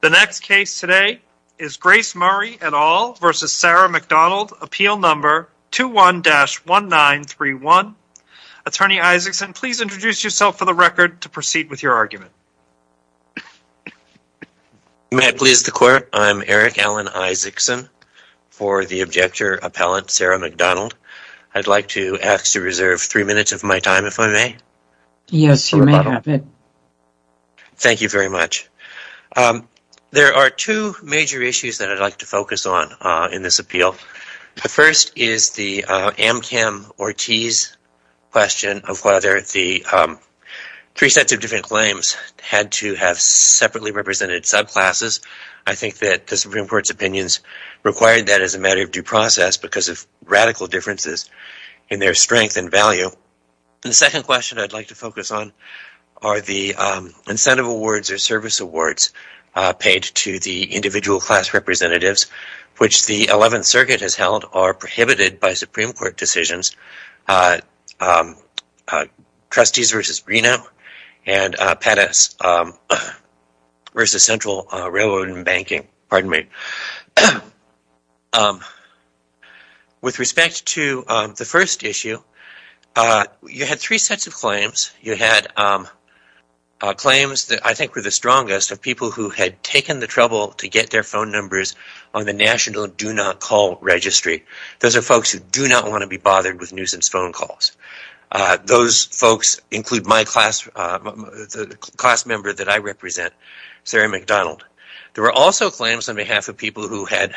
The next case today is Grace Murray et al. v. Sarah McDonald, Appeal No. 21-1931. Attorney Isaacson, please introduce yourself for the record to proceed with your argument. May I please the court? I'm Eric Alan Isaacson for the objector appellate Sarah McDonald. I'd like to ask to reserve three minutes of my time if I may. Yes, you may have it. Thank you very much. There are two major issues that I'd like to focus on in this appeal. The first is the Amcam-Ortiz question of whether the three sets of different claims had to have separately represented subclasses. I think that the Supreme Court's opinions required that as a matter of due process because of radical differences in their strength and value. The second question I'd like to focus on are the incentive awards or service awards paid to the individual class representatives, which the Eleventh Circuit has held are prohibited by Supreme Court decisions, Trustees v. Reno and Pettus v. Central Railroad and Banking. With respect to the first issue, you had three sets of claims. You had claims that I think were the strongest of people who had taken the trouble to get their phone numbers on the National Do Not Call Registry. Those are folks who do not want to be bothered with nuisance phone calls. Those folks include my class, the class member that I represent, Sarah McDonald. There were also claims on behalf of people who had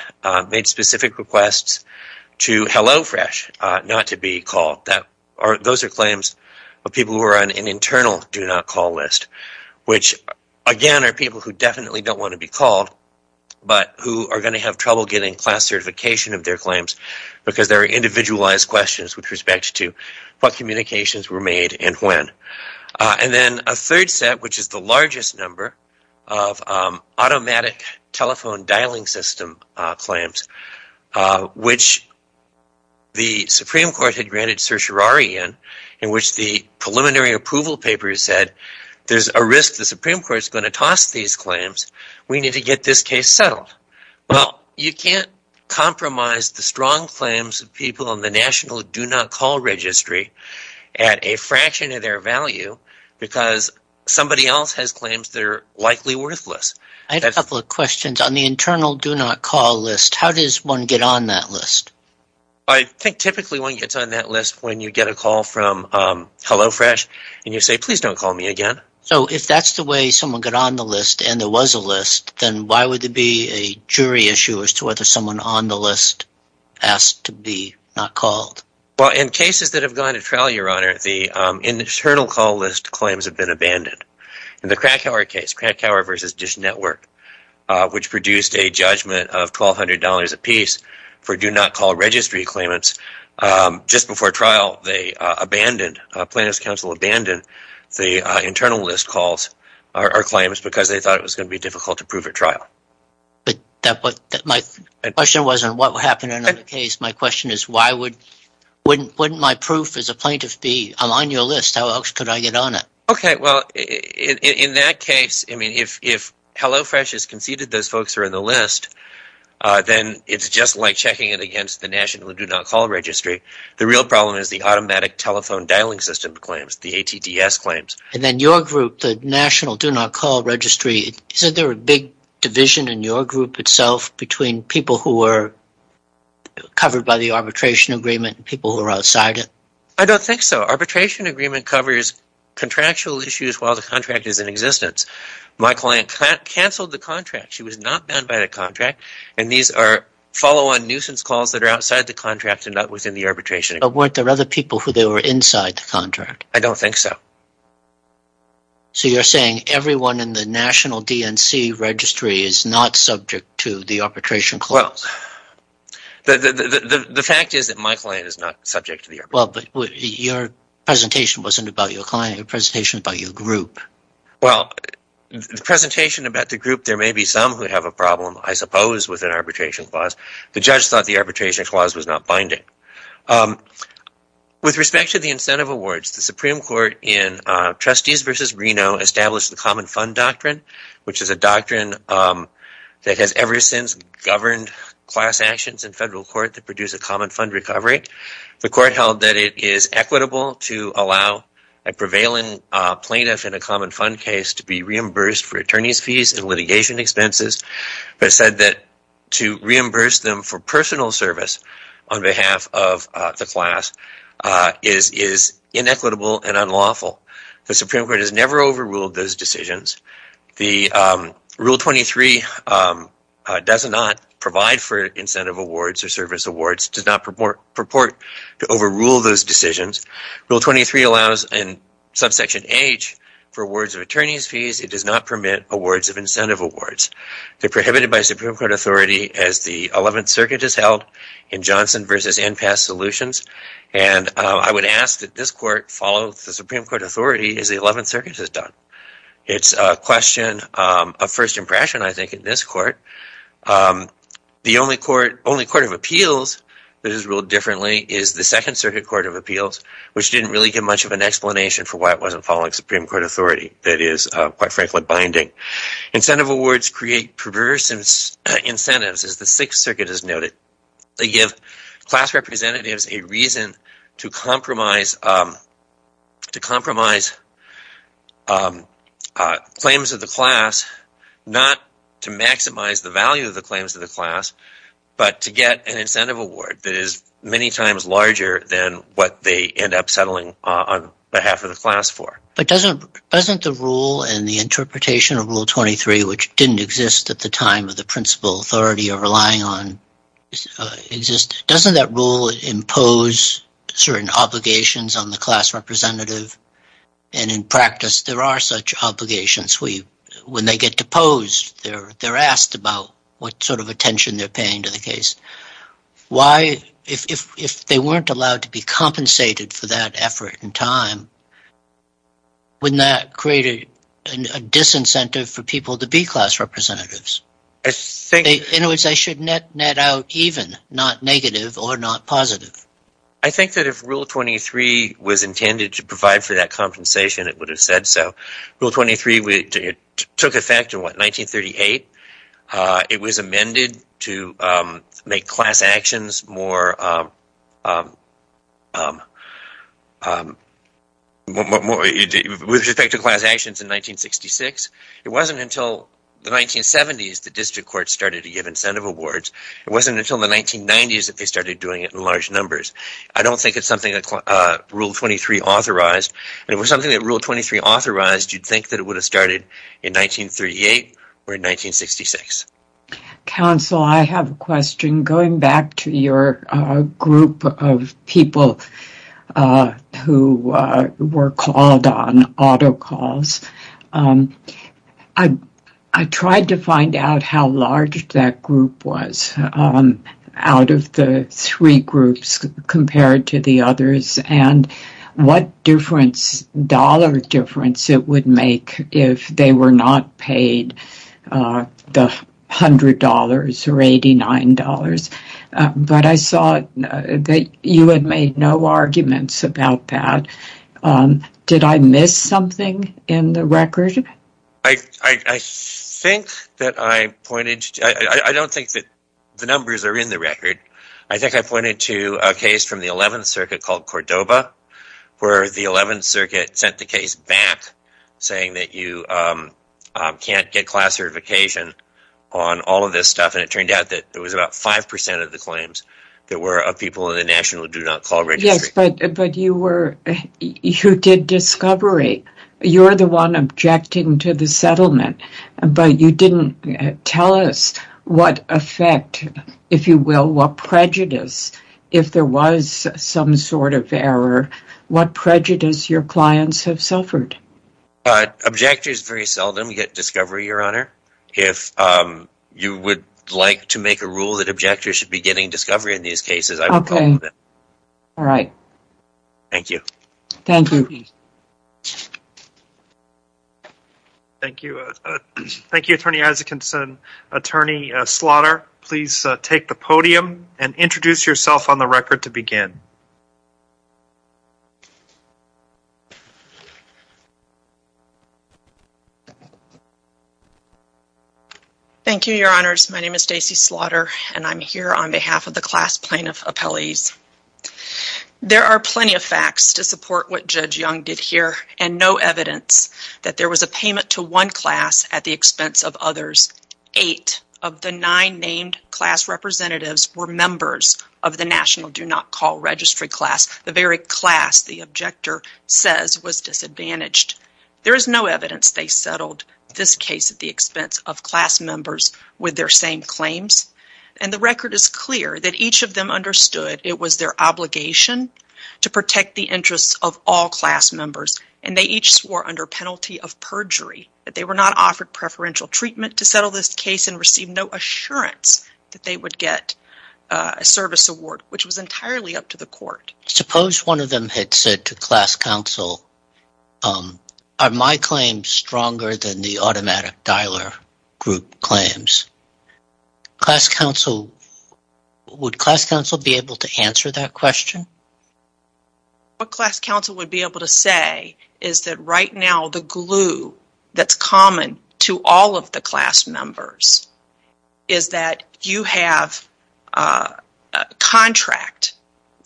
made specific requests to HelloFresh not to be called. Those are claims of people who are on an internal Do Not Call list, which again are people who definitely don't want to be called, but who are going to have trouble getting class certification of their claims because there are individualized questions with respect to what communications were made and when. Then a third set, which is the largest number of automatic telephone dialing system claims, which the Supreme Court had granted certiorari in, in which the preliminary approval paper said there's a risk the Supreme Court is going to toss these claims. We need to get this case settled. You can't compromise the strong claims of people on the National Do Not Call Registry at a fraction of their value because somebody else has claims that are likely worthless. I have a couple of questions. On the internal Do Not Call list, how does one get on that list? I think typically one gets on that list when you get a call from HelloFresh and you say, please don't call me again. If that's the way someone got on the list and there was a list, then why would there be a jury issue as to whether someone on the list asked to be not called? In cases that have gone to trial, Your Honor, the internal call list claims have been abandoned. In the Krakauer case, Krakauer v. Dish Network, which produced a judgment of $1,200 apiece for Do Not Call Registry claimants, just before trial, the plaintiff's counsel abandoned the internal list claims because they thought it was going to be difficult to prove at trial. My question wasn't what would happen in another case. My question is, wouldn't my proof as a plaintiff be, I'm on your list, how else could I get on it? In that case, if HelloFresh has conceded those folks are on the list, then it's just like checking it against the National Do Not Call Registry. The real problem is the automatic telephone dialing system claims, the ATTS claims. Then your group, the National Do Not Call Registry, is there a big division in your group itself between people who are covered by the arbitration agreement and people who are outside it? I don't think so. Arbitration agreement covers contractual issues while the contract is in existence. My client canceled the contract. She was not banned by the contract, and these are follow-on nuisance calls that are outside the contract and not within the arbitration agreement. But weren't there other people who were inside the contract? I don't think so. So you're saying everyone in the National DNC Registry is not subject to the arbitration clause? Well, the fact is that my client is not subject to the arbitration clause. Well, but your presentation wasn't about your client. Your presentation was about your group. Well, the presentation about the group, there may be some who have a problem, I suppose, with an arbitration clause. The judge thought the arbitration clause was not binding. With respect to the incentive awards, the Supreme Court in Trustees v. Reno established the Common Fund Doctrine, which is a doctrine that has ever since governed class actions in federal court that produce a common fund recovery. The court held that it is equitable to allow a prevailing plaintiff in a common fund case to be reimbursed for attorney's fees and litigation expenses, but said that to reimburse them for personal service on behalf of the class is inequitable and unlawful. The Supreme Court has never overruled those decisions. Rule 23 does not provide for incentive awards or service awards, does not purport to overrule those decisions. Rule 23 allows in subsection H for awards of attorney's fees. It does not permit awards of incentive awards. They're prohibited by Supreme Court authority as the Eleventh Circuit has held in Johnson v. Enpass Solutions, and I would ask that this court follow the Supreme Court authority as the Eleventh Circuit has done. It's a question of first impression, I think, in this court. The only court of appeals that is ruled differently is the Second Circuit Court of Appeals, which didn't really give much of an explanation for why it wasn't following Supreme Court authority that is, quite frankly, binding. Incentive awards create perverse incentives, as the Sixth Circuit has noted. They give class representatives a reason to compromise claims of the class, not to maximize the value of the claims of the class, but to get an incentive award that is many times larger than what they end up settling on behalf of the class for. But doesn't the rule and the interpretation of Rule 23, which didn't exist at the time of the principal authority you're relying on, exist? Doesn't that rule impose certain obligations on the class representative? And in practice, there are such obligations. When they get deposed, they're asked about what sort of attention they're paying to the case. Why, if they weren't allowed to be compensated for that effort and time, wouldn't that create a disincentive for people to be class representatives? In other words, they should net out even, not negative or not positive. I think that if Rule 23 was intended to provide for that compensation, it would have said so. Rule 23 took effect in, what, 1938? It was amended to make class actions more – with respect to class actions in 1966. It wasn't until the 1970s that district courts started to give incentive awards. It wasn't until the 1990s that they started doing it in large numbers. I don't think it's something that Rule 23 authorized. If it was something that Rule 23 authorized, you'd think that it would have started in 1938 or in 1966. Counsel, I have a question. Going back to your group of people who were called on auto calls, I tried to find out how large that group was out of the three groups compared to the others and what dollar difference it would make if they were not paid the $100 or $89. But I saw that you had made no arguments about that. Did I miss something in the record? I think that I pointed – I don't think that the numbers are in the record. I think I pointed to a case from the 11th Circuit called Cordoba, where the 11th Circuit sent the case back saying that you can't get class certification on all of this stuff. And it turned out that it was about 5% of the claims that were of people in the National Do Not Call Registry. Yes, but you were – you did discovery. You're the one objecting to the settlement. But you didn't tell us what effect, if you will, what prejudice. If there was some sort of error, what prejudice your clients have suffered. Objectors very seldom get discovery, Your Honor. If you would like to make a rule that objectors should be getting discovery in these cases, I would call for that. Okay. All right. Thank you. Thank you. Thank you. Thank you, Attorney Isakinson. Attorney Slaughter, please take the podium and introduce yourself on the record to begin. Thank you, Your Honors. My name is Stacy Slaughter, and I'm here on behalf of the class plaintiff appellees. There are plenty of facts to support what Judge Young did here, and no evidence that there was a payment to one class at the expense of others. Eight of the nine named class representatives were members of the National Do Not Call Registry class. The very class the objector says was disadvantaged. There is no evidence they settled this case at the expense of class members with their same claims. And the record is clear that each of them understood it was their obligation to protect the interests of all class members, and they each swore under penalty of perjury that they were not offered preferential treatment to settle this case and received no assurance that they would get a service award, which was entirely up to the court. Suppose one of them had said to class counsel, Are my claims stronger than the automatic dialer group claims? Would class counsel be able to answer that question? What class counsel would be able to say is that right now the glue that's common to all of the class members is that you have a contract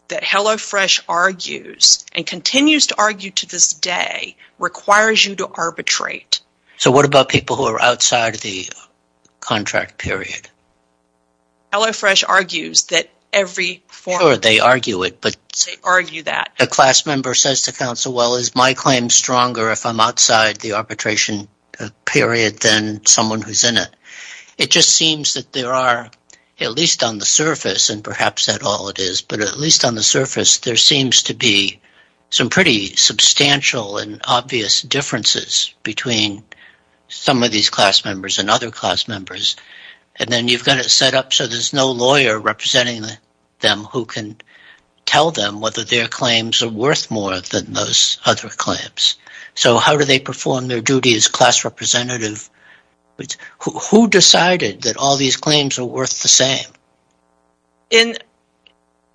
that HelloFresh argues and continues to argue today and to this day requires you to arbitrate. So what about people who are outside of the contract period? HelloFresh argues that every form... Sure, they argue it, but... They argue that. A class member says to counsel, well, is my claim stronger if I'm outside the arbitration period than someone who's in it? It just seems that there are, at least on the surface, and perhaps that's all it is, but at least on the surface there seems to be some pretty substantial and obvious differences between some of these class members and other class members. And then you've got it set up so there's no lawyer representing them who can tell them whether their claims are worth more than those other claims. So how do they perform their duty as class representative? Who decided that all these claims are worth the same?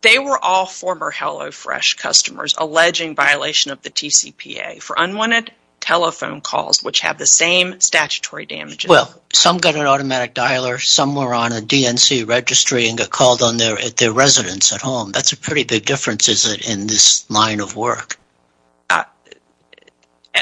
They were all former HelloFresh customers alleging violation of the TCPA for unwanted telephone calls which have the same statutory damages. Well, some got an automatic dialer, some were on a DNC registry and got called on their residence at home. That's a pretty big difference, is it, in this line of work?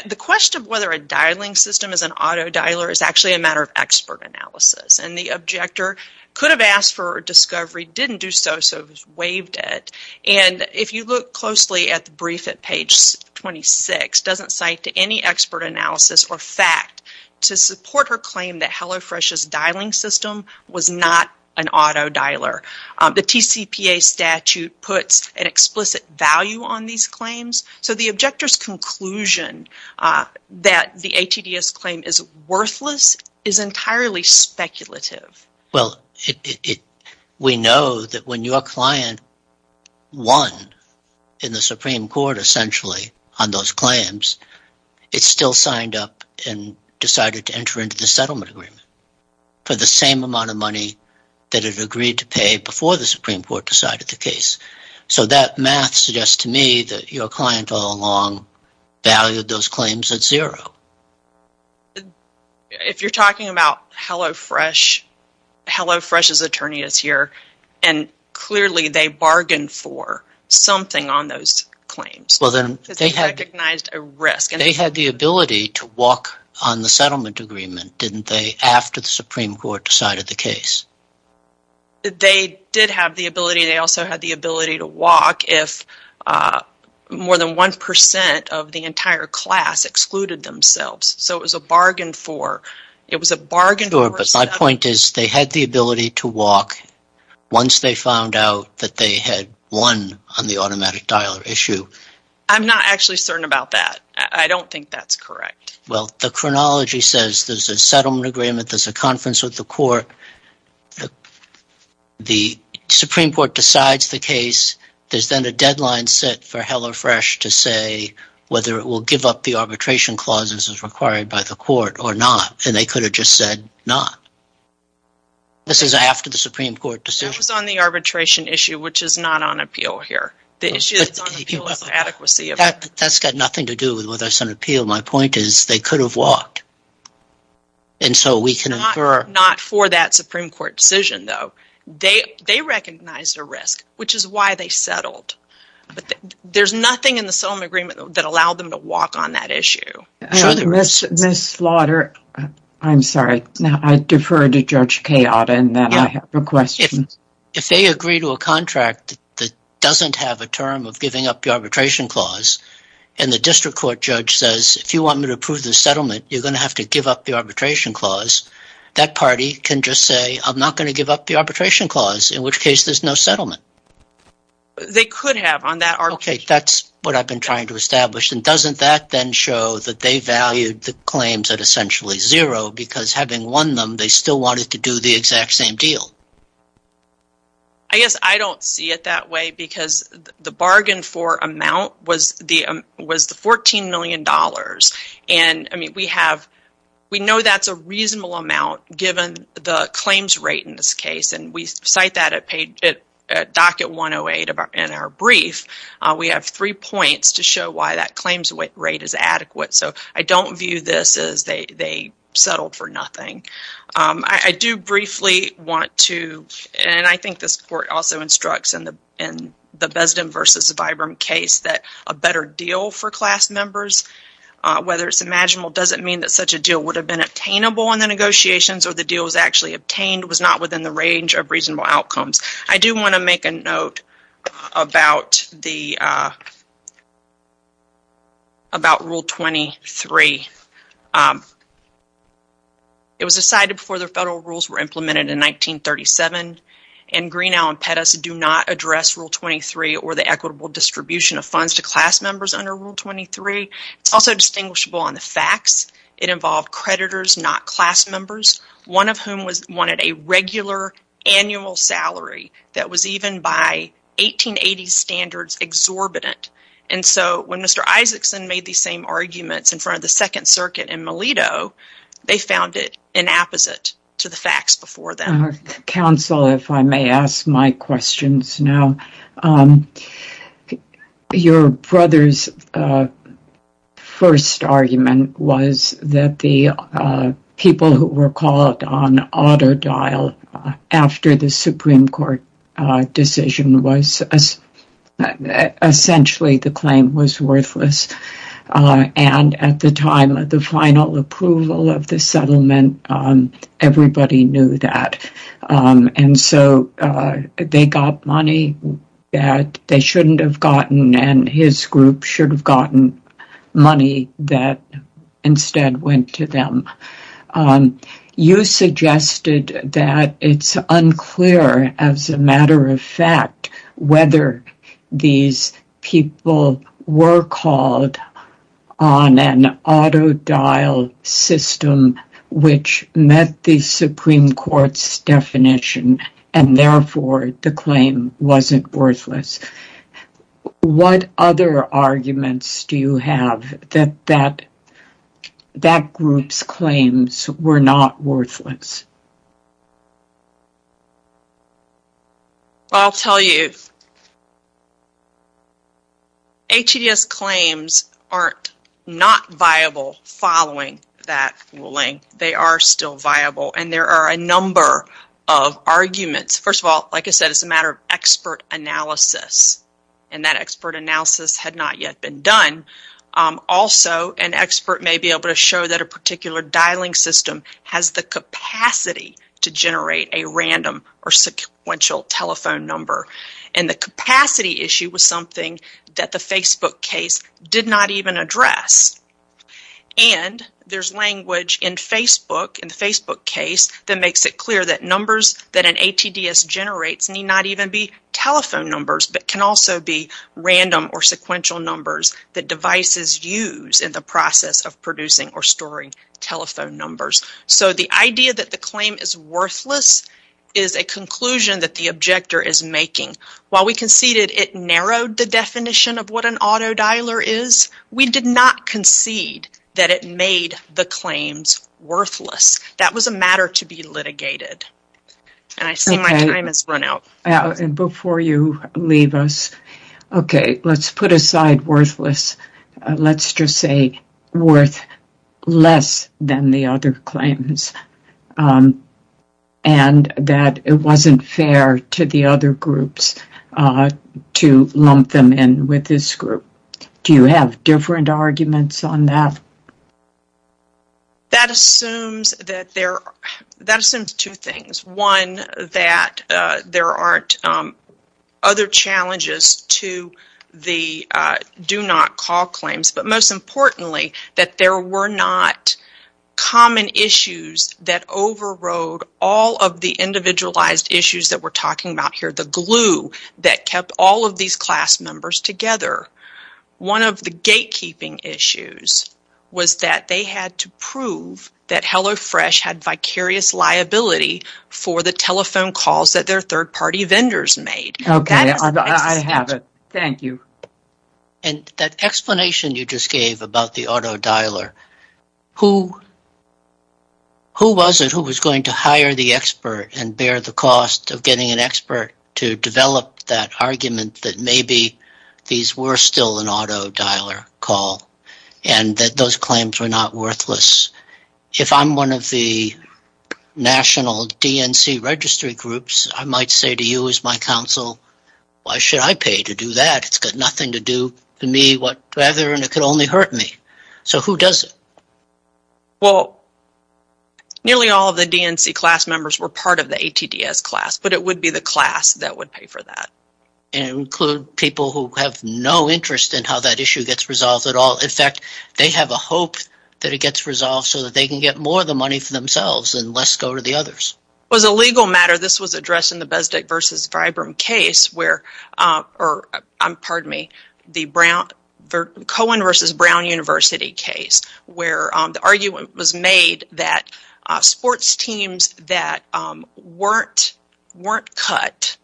The question of whether a dialing system is an auto dialer is actually a matter of expert analysis. And the objector could have asked for a discovery, didn't do so, so it was waived at. And if you look closely at the brief at page 26, it doesn't cite any expert analysis or fact to support her claim that HelloFresh's dialing system was not an auto dialer. The TCPA statute puts an explicit value on these claims, so the objector's conclusion that the ATDS claim is worthless is entirely speculative. Well, we know that when your client won in the Supreme Court, essentially, on those claims, it still signed up and decided to enter into the settlement agreement for the same amount of money that it agreed to pay before the Supreme Court decided the case. So that math suggests to me that your client all along valued those claims at zero. If you're talking about HelloFresh, HelloFresh's attorney is here, and clearly they bargained for something on those claims. They had the ability to walk on the settlement agreement, didn't they, after the Supreme Court decided the case? They did have the ability. They also had the ability to walk if more than 1% of the entire class excluded themselves. So it was a bargain for... But my point is they had the ability to walk once they found out that they had won on the automatic dialer issue. I'm not actually certain about that. I don't think that's correct. Well, the chronology says there's a settlement agreement, there's a conference with the court, the Supreme Court decides the case, there's then a deadline set for HelloFresh to say whether it will give up the arbitration clauses as required by the court or not. And they could have just said not. This is after the Supreme Court decision. That was on the arbitration issue, which is not on appeal here. The issue that's on appeal is the adequacy of it. That's got nothing to do with whether it's on appeal. My point is they could have walked. And so we can infer... Not for that Supreme Court decision, though. They recognized a risk, which is why they settled. But there's nothing in the settlement agreement that allowed them to walk on that issue. Ms. Slaughter, I'm sorry, I defer to Judge Chaota in that I have a question. If they agree to a contract that doesn't have a term of giving up the arbitration clause and the district court judge says, if you want me to approve the settlement, you're going to have to give up the arbitration clause, that party can just say, I'm not going to give up the arbitration clause, in which case there's no settlement. They could have on that arbitration clause. Okay, that's what I've been trying to establish. And doesn't that then show that they valued the claims at essentially zero because having won them, they still wanted to do the exact same deal? I guess I don't see it that way because the bargain for amount was the $14 million. And, I mean, we know that's a reasonable amount given the claims rate in this case. And we cite that at docket 108 in our brief. We have three points to show why that claims rate is adequate. So I don't view this as they settled for nothing. I do briefly want to, and I think this court also instructs in the Besdom v. Vibram case that a better deal for class members, whether it's imaginable, doesn't mean that such a deal would have been obtainable in the negotiations or the deal was actually obtained, was not within the range of reasonable outcomes. I do want to make a note about Rule 23. It was decided before the federal rules were implemented in 1937, and Greenow and Pettis do not address Rule 23 or the equitable distribution of funds to class members under Rule 23. It's also distinguishable on the facts. It involved creditors, not class members, one of whom wanted a regular annual salary that was even by 1880s standards exorbitant. And so when Mr. Isaacson made these same arguments in front of the Second Circuit in Melito, they found it inapposite to the facts before them. Counsel, if I may ask my questions now. Your brother's first argument was that the people who were called on auto-dial after the Supreme Court decision was essentially the claim was worthless. And at the time of the final approval of the settlement, everybody knew that. And so they got money that they shouldn't have gotten, and his group should have gotten money that instead went to them. You suggested that it's unclear, as a matter of fact, whether these people were called on an auto-dial system which met the Supreme Court's definition and therefore the claim wasn't worthless. What other arguments do you have that that group's claims were not worthless? Well, I'll tell you, HEDS claims aren't not viable following that ruling. They are still viable, and there are a number of arguments. First of all, like I said, it's a matter of expert analysis, and that expert analysis had not yet been done. Also, an expert may be able to show that a particular dialing system has the capacity to generate a random or sequential telephone number. And the capacity issue was something that the Facebook case did not even address. And there's language in the Facebook case that makes it clear that numbers that an ATDS generates need not even be telephone numbers, but can also be random or sequential numbers that devices use in the process of producing or storing telephone numbers. So the idea that the claim is worthless is a conclusion that the objector is making. While we conceded it narrowed the definition of what an auto-dialer is, we did not concede that it made the claims worthless. That was a matter to be litigated. And I see my time has run out. Before you leave us, okay, let's put aside worthless. Let's just say worth less than the other claims, and that it wasn't fair to the other groups to lump them in with this group. Do you have different arguments on that? That assumes two things. One, that there aren't other challenges to the do-not-call claims. But most importantly, that there were not common issues that overrode all of the individualized issues that we're talking about here, the glue that kept all of these class members together. One of the gatekeeping issues was that they had to prove that HelloFresh had vicarious liability for the telephone calls that their third-party vendors made. Okay, I have it. Thank you. And that explanation you just gave about the auto-dialer, who was it who was going to hire the expert and bear the cost of getting an expert to develop that argument that maybe these were still an auto-dialer call, and that those claims were not worthless? If I'm one of the national DNC registry groups, I might say to you as my counsel, why should I pay to do that? It's got nothing to do with me what rather, and it could only hurt me. So who does it? Well, nearly all of the DNC class members were part of the ATDS class, but it would be the class that would pay for that. And include people who have no interest in how that issue gets resolved at all. In fact, they have a hope that it gets resolved so that they can get more of the money for themselves and less go to the others. As a legal matter, this was addressed in the Cohen v. Brown University case, where the argument was made that sports teams that weren't cut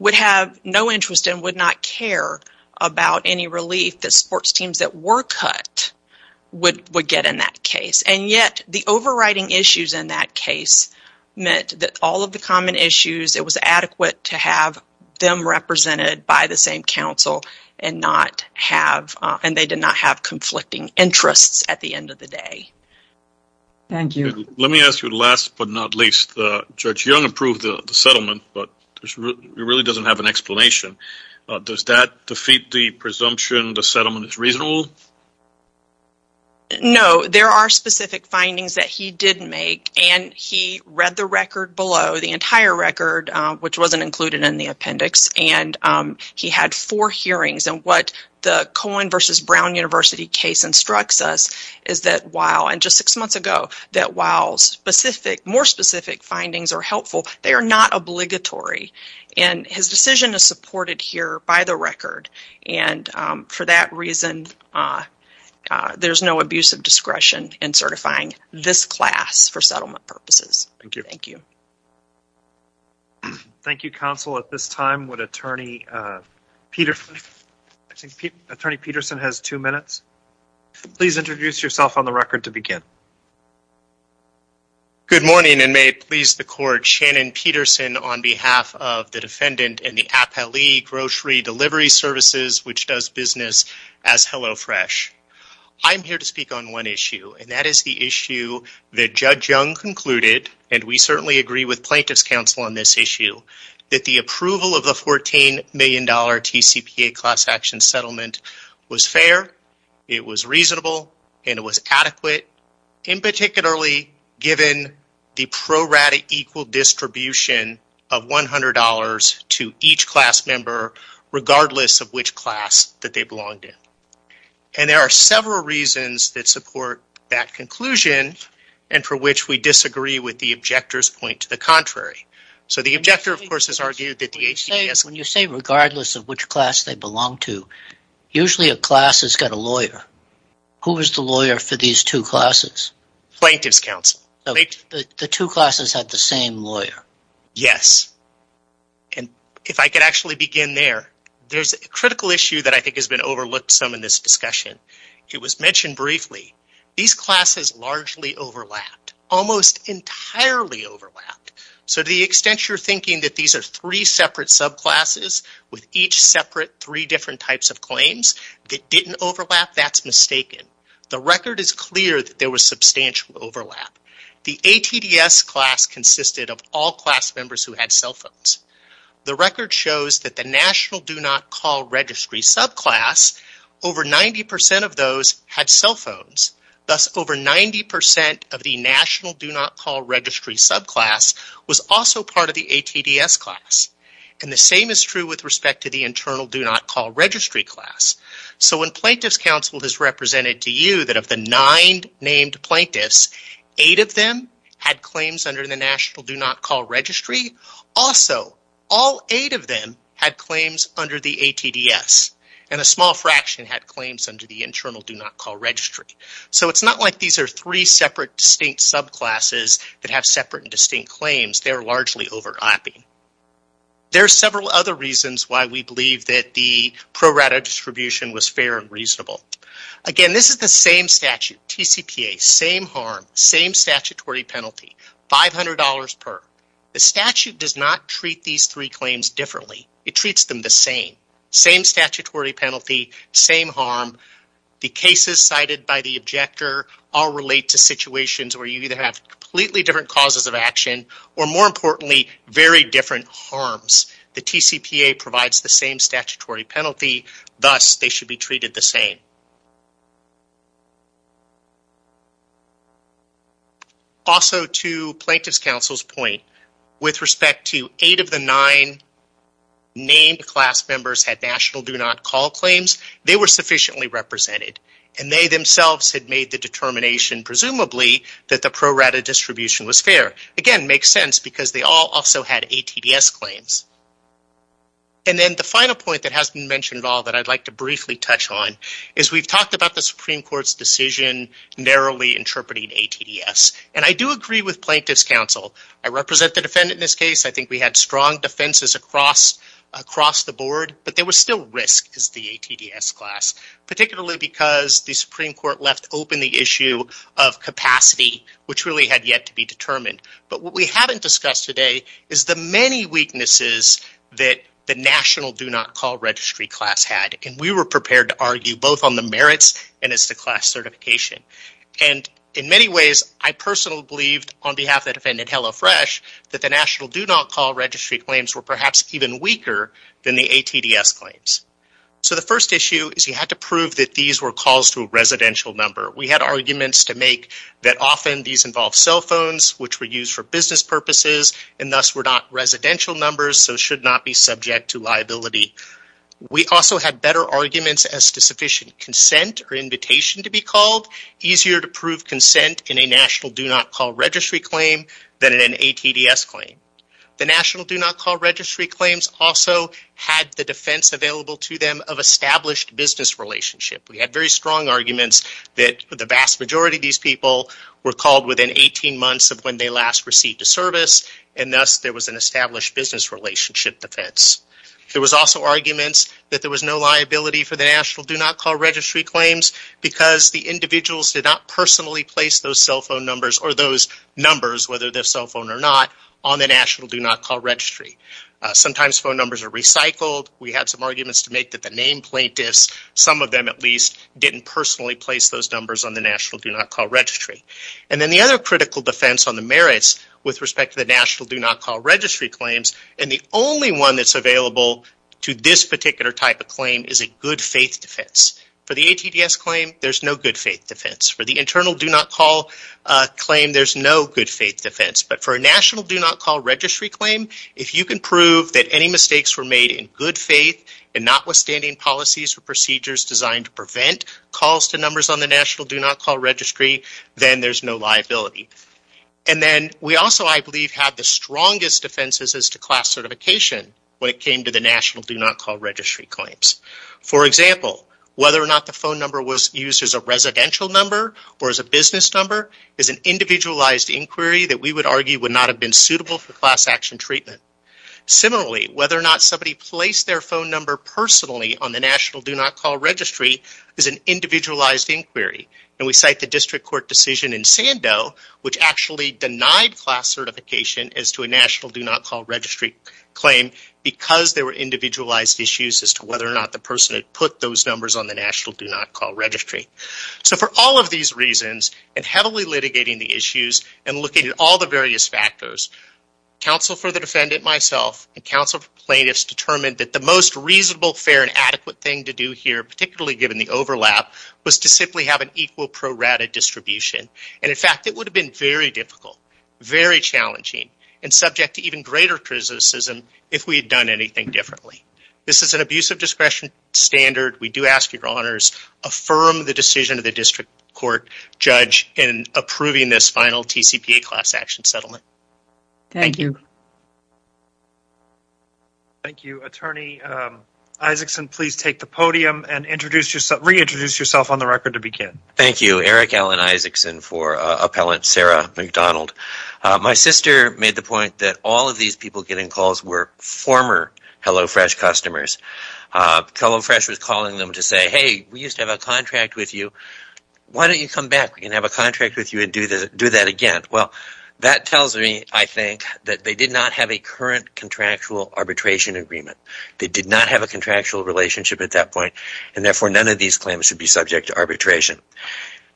would have no interest and would not care about any relief that sports teams that were cut would get in that case. And yet the overriding issues in that case meant that all of the common issues, it was adequate to have them represented by the same counsel, and they did not have conflicting interests at the end of the day. Thank you. Let me ask you the last but not least. Judge Young approved the settlement, but it really doesn't have an explanation. Does that defeat the presumption the settlement is reasonable? No. There are specific findings that he did make, and he read the record below, the entire record, which wasn't included in the appendix, and he had four hearings. And what the Cohen v. Brown University case instructs us is that while, and just six months ago, that while more specific findings are helpful, they are not obligatory. And his decision is supported here by the record, and for that reason, there's no abuse of discretion in certifying this class for settlement purposes. Thank you. Thank you. Thank you, counsel. At this time, would Attorney Peterson, I think Attorney Peterson has two minutes. Please introduce yourself on the record to begin. Good morning, and may it please the Court, Shannon Peterson on behalf of the defendant in the Appellee Grocery Delivery Services, which does business as HelloFresh. I'm here to speak on one issue, and that is the issue that Judge Young concluded, and we certainly agree with plaintiff's counsel on this issue, that the approval of the $14 million TCPA class action settlement was fair, it was reasonable, and it was adequate, and particularly given the prorate equal distribution of $100 to each class member, regardless of which class that they belonged in. And there are several reasons that support that conclusion, and for which we disagree with the objector's point to the contrary. So the objector, of course, has argued that the HCBS… When you say regardless of which class they belong to, usually a class has got a lawyer. Who is the lawyer for these two classes? Plaintiff's counsel. The two classes have the same lawyer. Yes. And if I could actually begin there, there's a critical issue that I think has been overlooked some in this discussion. It was mentioned briefly. These classes largely overlapped, almost entirely overlapped. So to the extent you're thinking that these are three separate subclasses, with each separate three different types of claims, that didn't overlap, that's mistaken. The record is clear that there was substantial overlap. The ATDS class consisted of all class members who had cell phones. The record shows that the National Do Not Call Registry subclass, over 90% of those had cell phones. Thus, over 90% of the National Do Not Call Registry subclass was also part of the ATDS class. And the same is true with respect to the Internal Do Not Call Registry class. So when plaintiff's counsel has represented to you that of the nine named plaintiffs, eight of them had claims under the National Do Not Call Registry. Also, all eight of them had claims under the ATDS. And a small fraction had claims under the Internal Do Not Call Registry. So it's not like these are three separate distinct subclasses that have separate and distinct claims. They're largely overlapping. There are several other reasons why we believe that the pro rata distribution was fair and reasonable. Again, this is the same statute, TCPA, same harm, same statutory penalty, $500 per. The statute does not treat these three claims differently. It treats them the same. Same statutory penalty, same harm. The cases cited by the objector all relate to situations where you either have completely different causes of action or, more importantly, very different harms. The TCPA provides the same statutory penalty. Thus, they should be treated the same. Also, to Plaintiff's Counsel's point, with respect to eight of the nine named class members had National Do Not Call claims, they were sufficiently represented. And they themselves had made the determination, presumably, that the pro rata distribution was fair. Again, it makes sense because they all also had ATDS claims. And then the final point that hasn't been mentioned at all that I'd like to make is that we talked about the Supreme Court's decision narrowly interpreting ATDS. And I do agree with Plaintiff's Counsel. I represent the defendant in this case. I think we had strong defenses across the board. But there was still risk as the ATDS class, particularly because the Supreme Court left open the issue of capacity, which really had yet to be determined. But what we haven't discussed today is the many weaknesses that the National Do Not Call registry class had. And we were prepared to argue both on the merits and as to class certification. And in many ways, I personally believed on behalf of the defendant, HelloFresh, that the National Do Not Call registry claims were perhaps even weaker than the ATDS claims. So the first issue is you had to prove that these were calls to a residential number. We had arguments to make that often these involved cell phones, which were used for business purposes, and thus were not residential numbers, so should not be subject to liability. We also had better arguments as to sufficient consent or invitation to be called, easier to prove consent in a National Do Not Call registry claim than in an ATDS claim. The National Do Not Call registry claims also had the defense available to them of established business relationship. We had very strong arguments that the vast majority of these people were called within 18 months of when they last received a service, and thus there was an established business relationship defense. There was also arguments that there was no liability for the National Do Not Call registry claims because the individuals did not personally place those cell phone numbers or those numbers, whether they're cell phone or not, on the National Do Not Call registry. Sometimes phone numbers are recycled. We had some arguments to make that the named plaintiffs, some of them at least, didn't personally place those numbers on the National Do Not Call registry. And then the other critical defense on the merits with respect to the National Do Not Call registry claims, and the only one that's available to this particular type of claim, is a good faith defense. For the ATDS claim, there's no good faith defense. For the internal Do Not Call claim, there's no good faith defense. But for a National Do Not Call registry claim, if you can prove that any mistakes were made in good faith and notwithstanding policies or procedures designed to prevent calls to numbers on the National Do Not Call registry, then there's no liability. And then we also, I believe, have the strongest defenses as to class certification when it came to the National Do Not Call registry claims. For example, whether or not the phone number was used as a residential number or as a business number is an individualized inquiry that we would argue would not have been suitable for class action treatment. Similarly, whether or not somebody placed their phone number personally on the National Do Not Call registry is an individualized inquiry. And we cite the district court decision in Sandow, which actually denied class certification as to a National Do Not Call registry claim because there were individualized issues as to whether or not the person had put those numbers on the National Do Not Call registry. So for all of these reasons, and heavily litigating the issues and looking at all the various factors, counsel for the defendant, myself, and counsel for plaintiffs determined that the most reasonable, fair, and adequate thing to do here, particularly given the overlap, was to simply have an equal pro rata distribution. And in fact, it would have been very difficult, very challenging, and subject to even greater criticism if we had done anything differently. This is an abuse of discretion standard. We do ask your honors affirm the decision of the district court judge in approving this final TCPA class action settlement. Thank you. Thank you. Attorney Isaacson, please take the podium and reintroduce yourself on the record to begin. Thank you. Eric Allen Isaacson for appellant Sarah McDonald. My sister made the point that all of these people getting calls were former HelloFresh customers. HelloFresh was calling them to say, hey, we used to have a contract with you. Why don't you come back? We can have a contract with you and do that again. Well, that tells me, I think, that they did not have a current contractual arbitration agreement. They did not have a contractual relationship at that point, and, therefore, none of these claims should be subject to arbitration.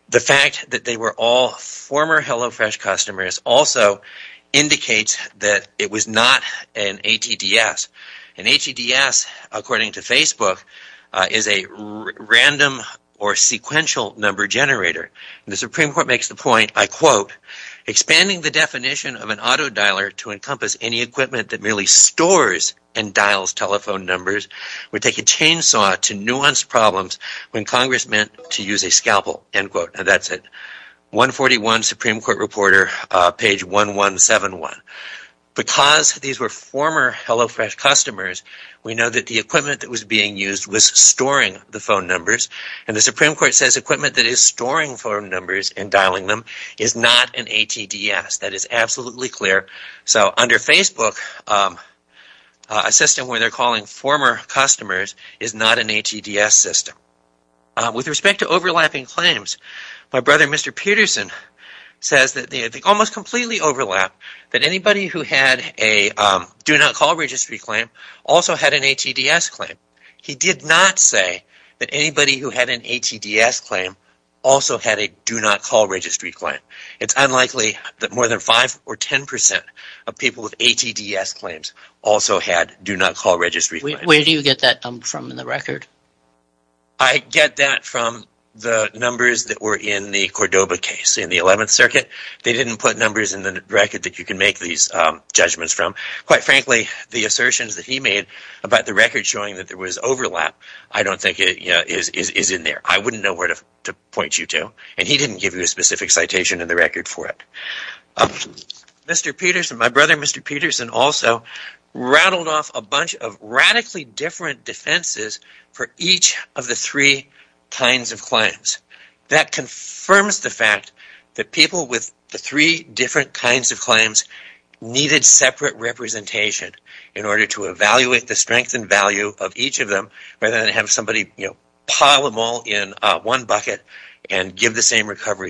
The fact that they were all former HelloFresh customers also indicates that it was not an ATDS. An ATDS, according to Facebook, is a random or sequential number generator. And the Supreme Court makes the point, I quote, expanding the definition of an telephone numbers. We take a chainsaw to nuance problems when Congress meant to use a scalpel, end quote. And that's it. 141 Supreme Court Reporter, page 1171. Because these were former HelloFresh customers, we know that the equipment that was being used was storing the phone numbers. And the Supreme Court says equipment that is storing phone numbers and dialing them is not an ATDS. That is absolutely clear. So under Facebook, a system where they're calling former customers is not an ATDS system. With respect to overlapping claims, my brother, Mr. Peterson, says that they almost completely overlap, that anybody who had a Do Not Call Registry claim also had an ATDS claim. He did not say that anybody who had an ATDS claim also had a Do Not Call Registry claim. It's unlikely that more than 5% or 10% of people with ATDS claims also had Do Not Call Registry claims. Where do you get that from in the record? I get that from the numbers that were in the Cordoba case in the 11th Circuit. They didn't put numbers in the record that you can make these judgments from. Quite frankly, the assertions that he made about the record showing that there was overlap I don't think is in there. I wouldn't know where to point you to. And he didn't give you a specific citation in the record for it. Mr. Peterson, my brother, Mr. Peterson, also rattled off a bunch of radically different defenses for each of the three kinds of claims. That confirms the fact that people with the three different kinds of claims needed separate representation in order to evaluate the strength and value of the same recovery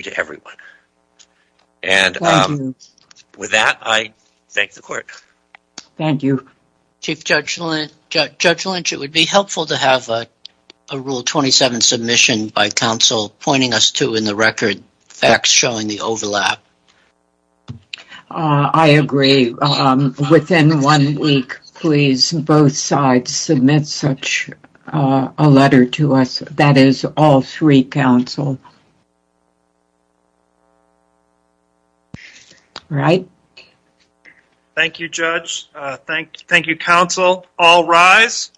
to everyone. Thank you. With that, I thank the court. Thank you. Chief Judge Lynch, it would be helpful to have a Rule 27 submission by counsel pointing us to in the record facts showing the overlap. I agree. Within one week, please, both sides submit such a letter to us. That is all three counsel. All right. Thank you, Judge. All rise.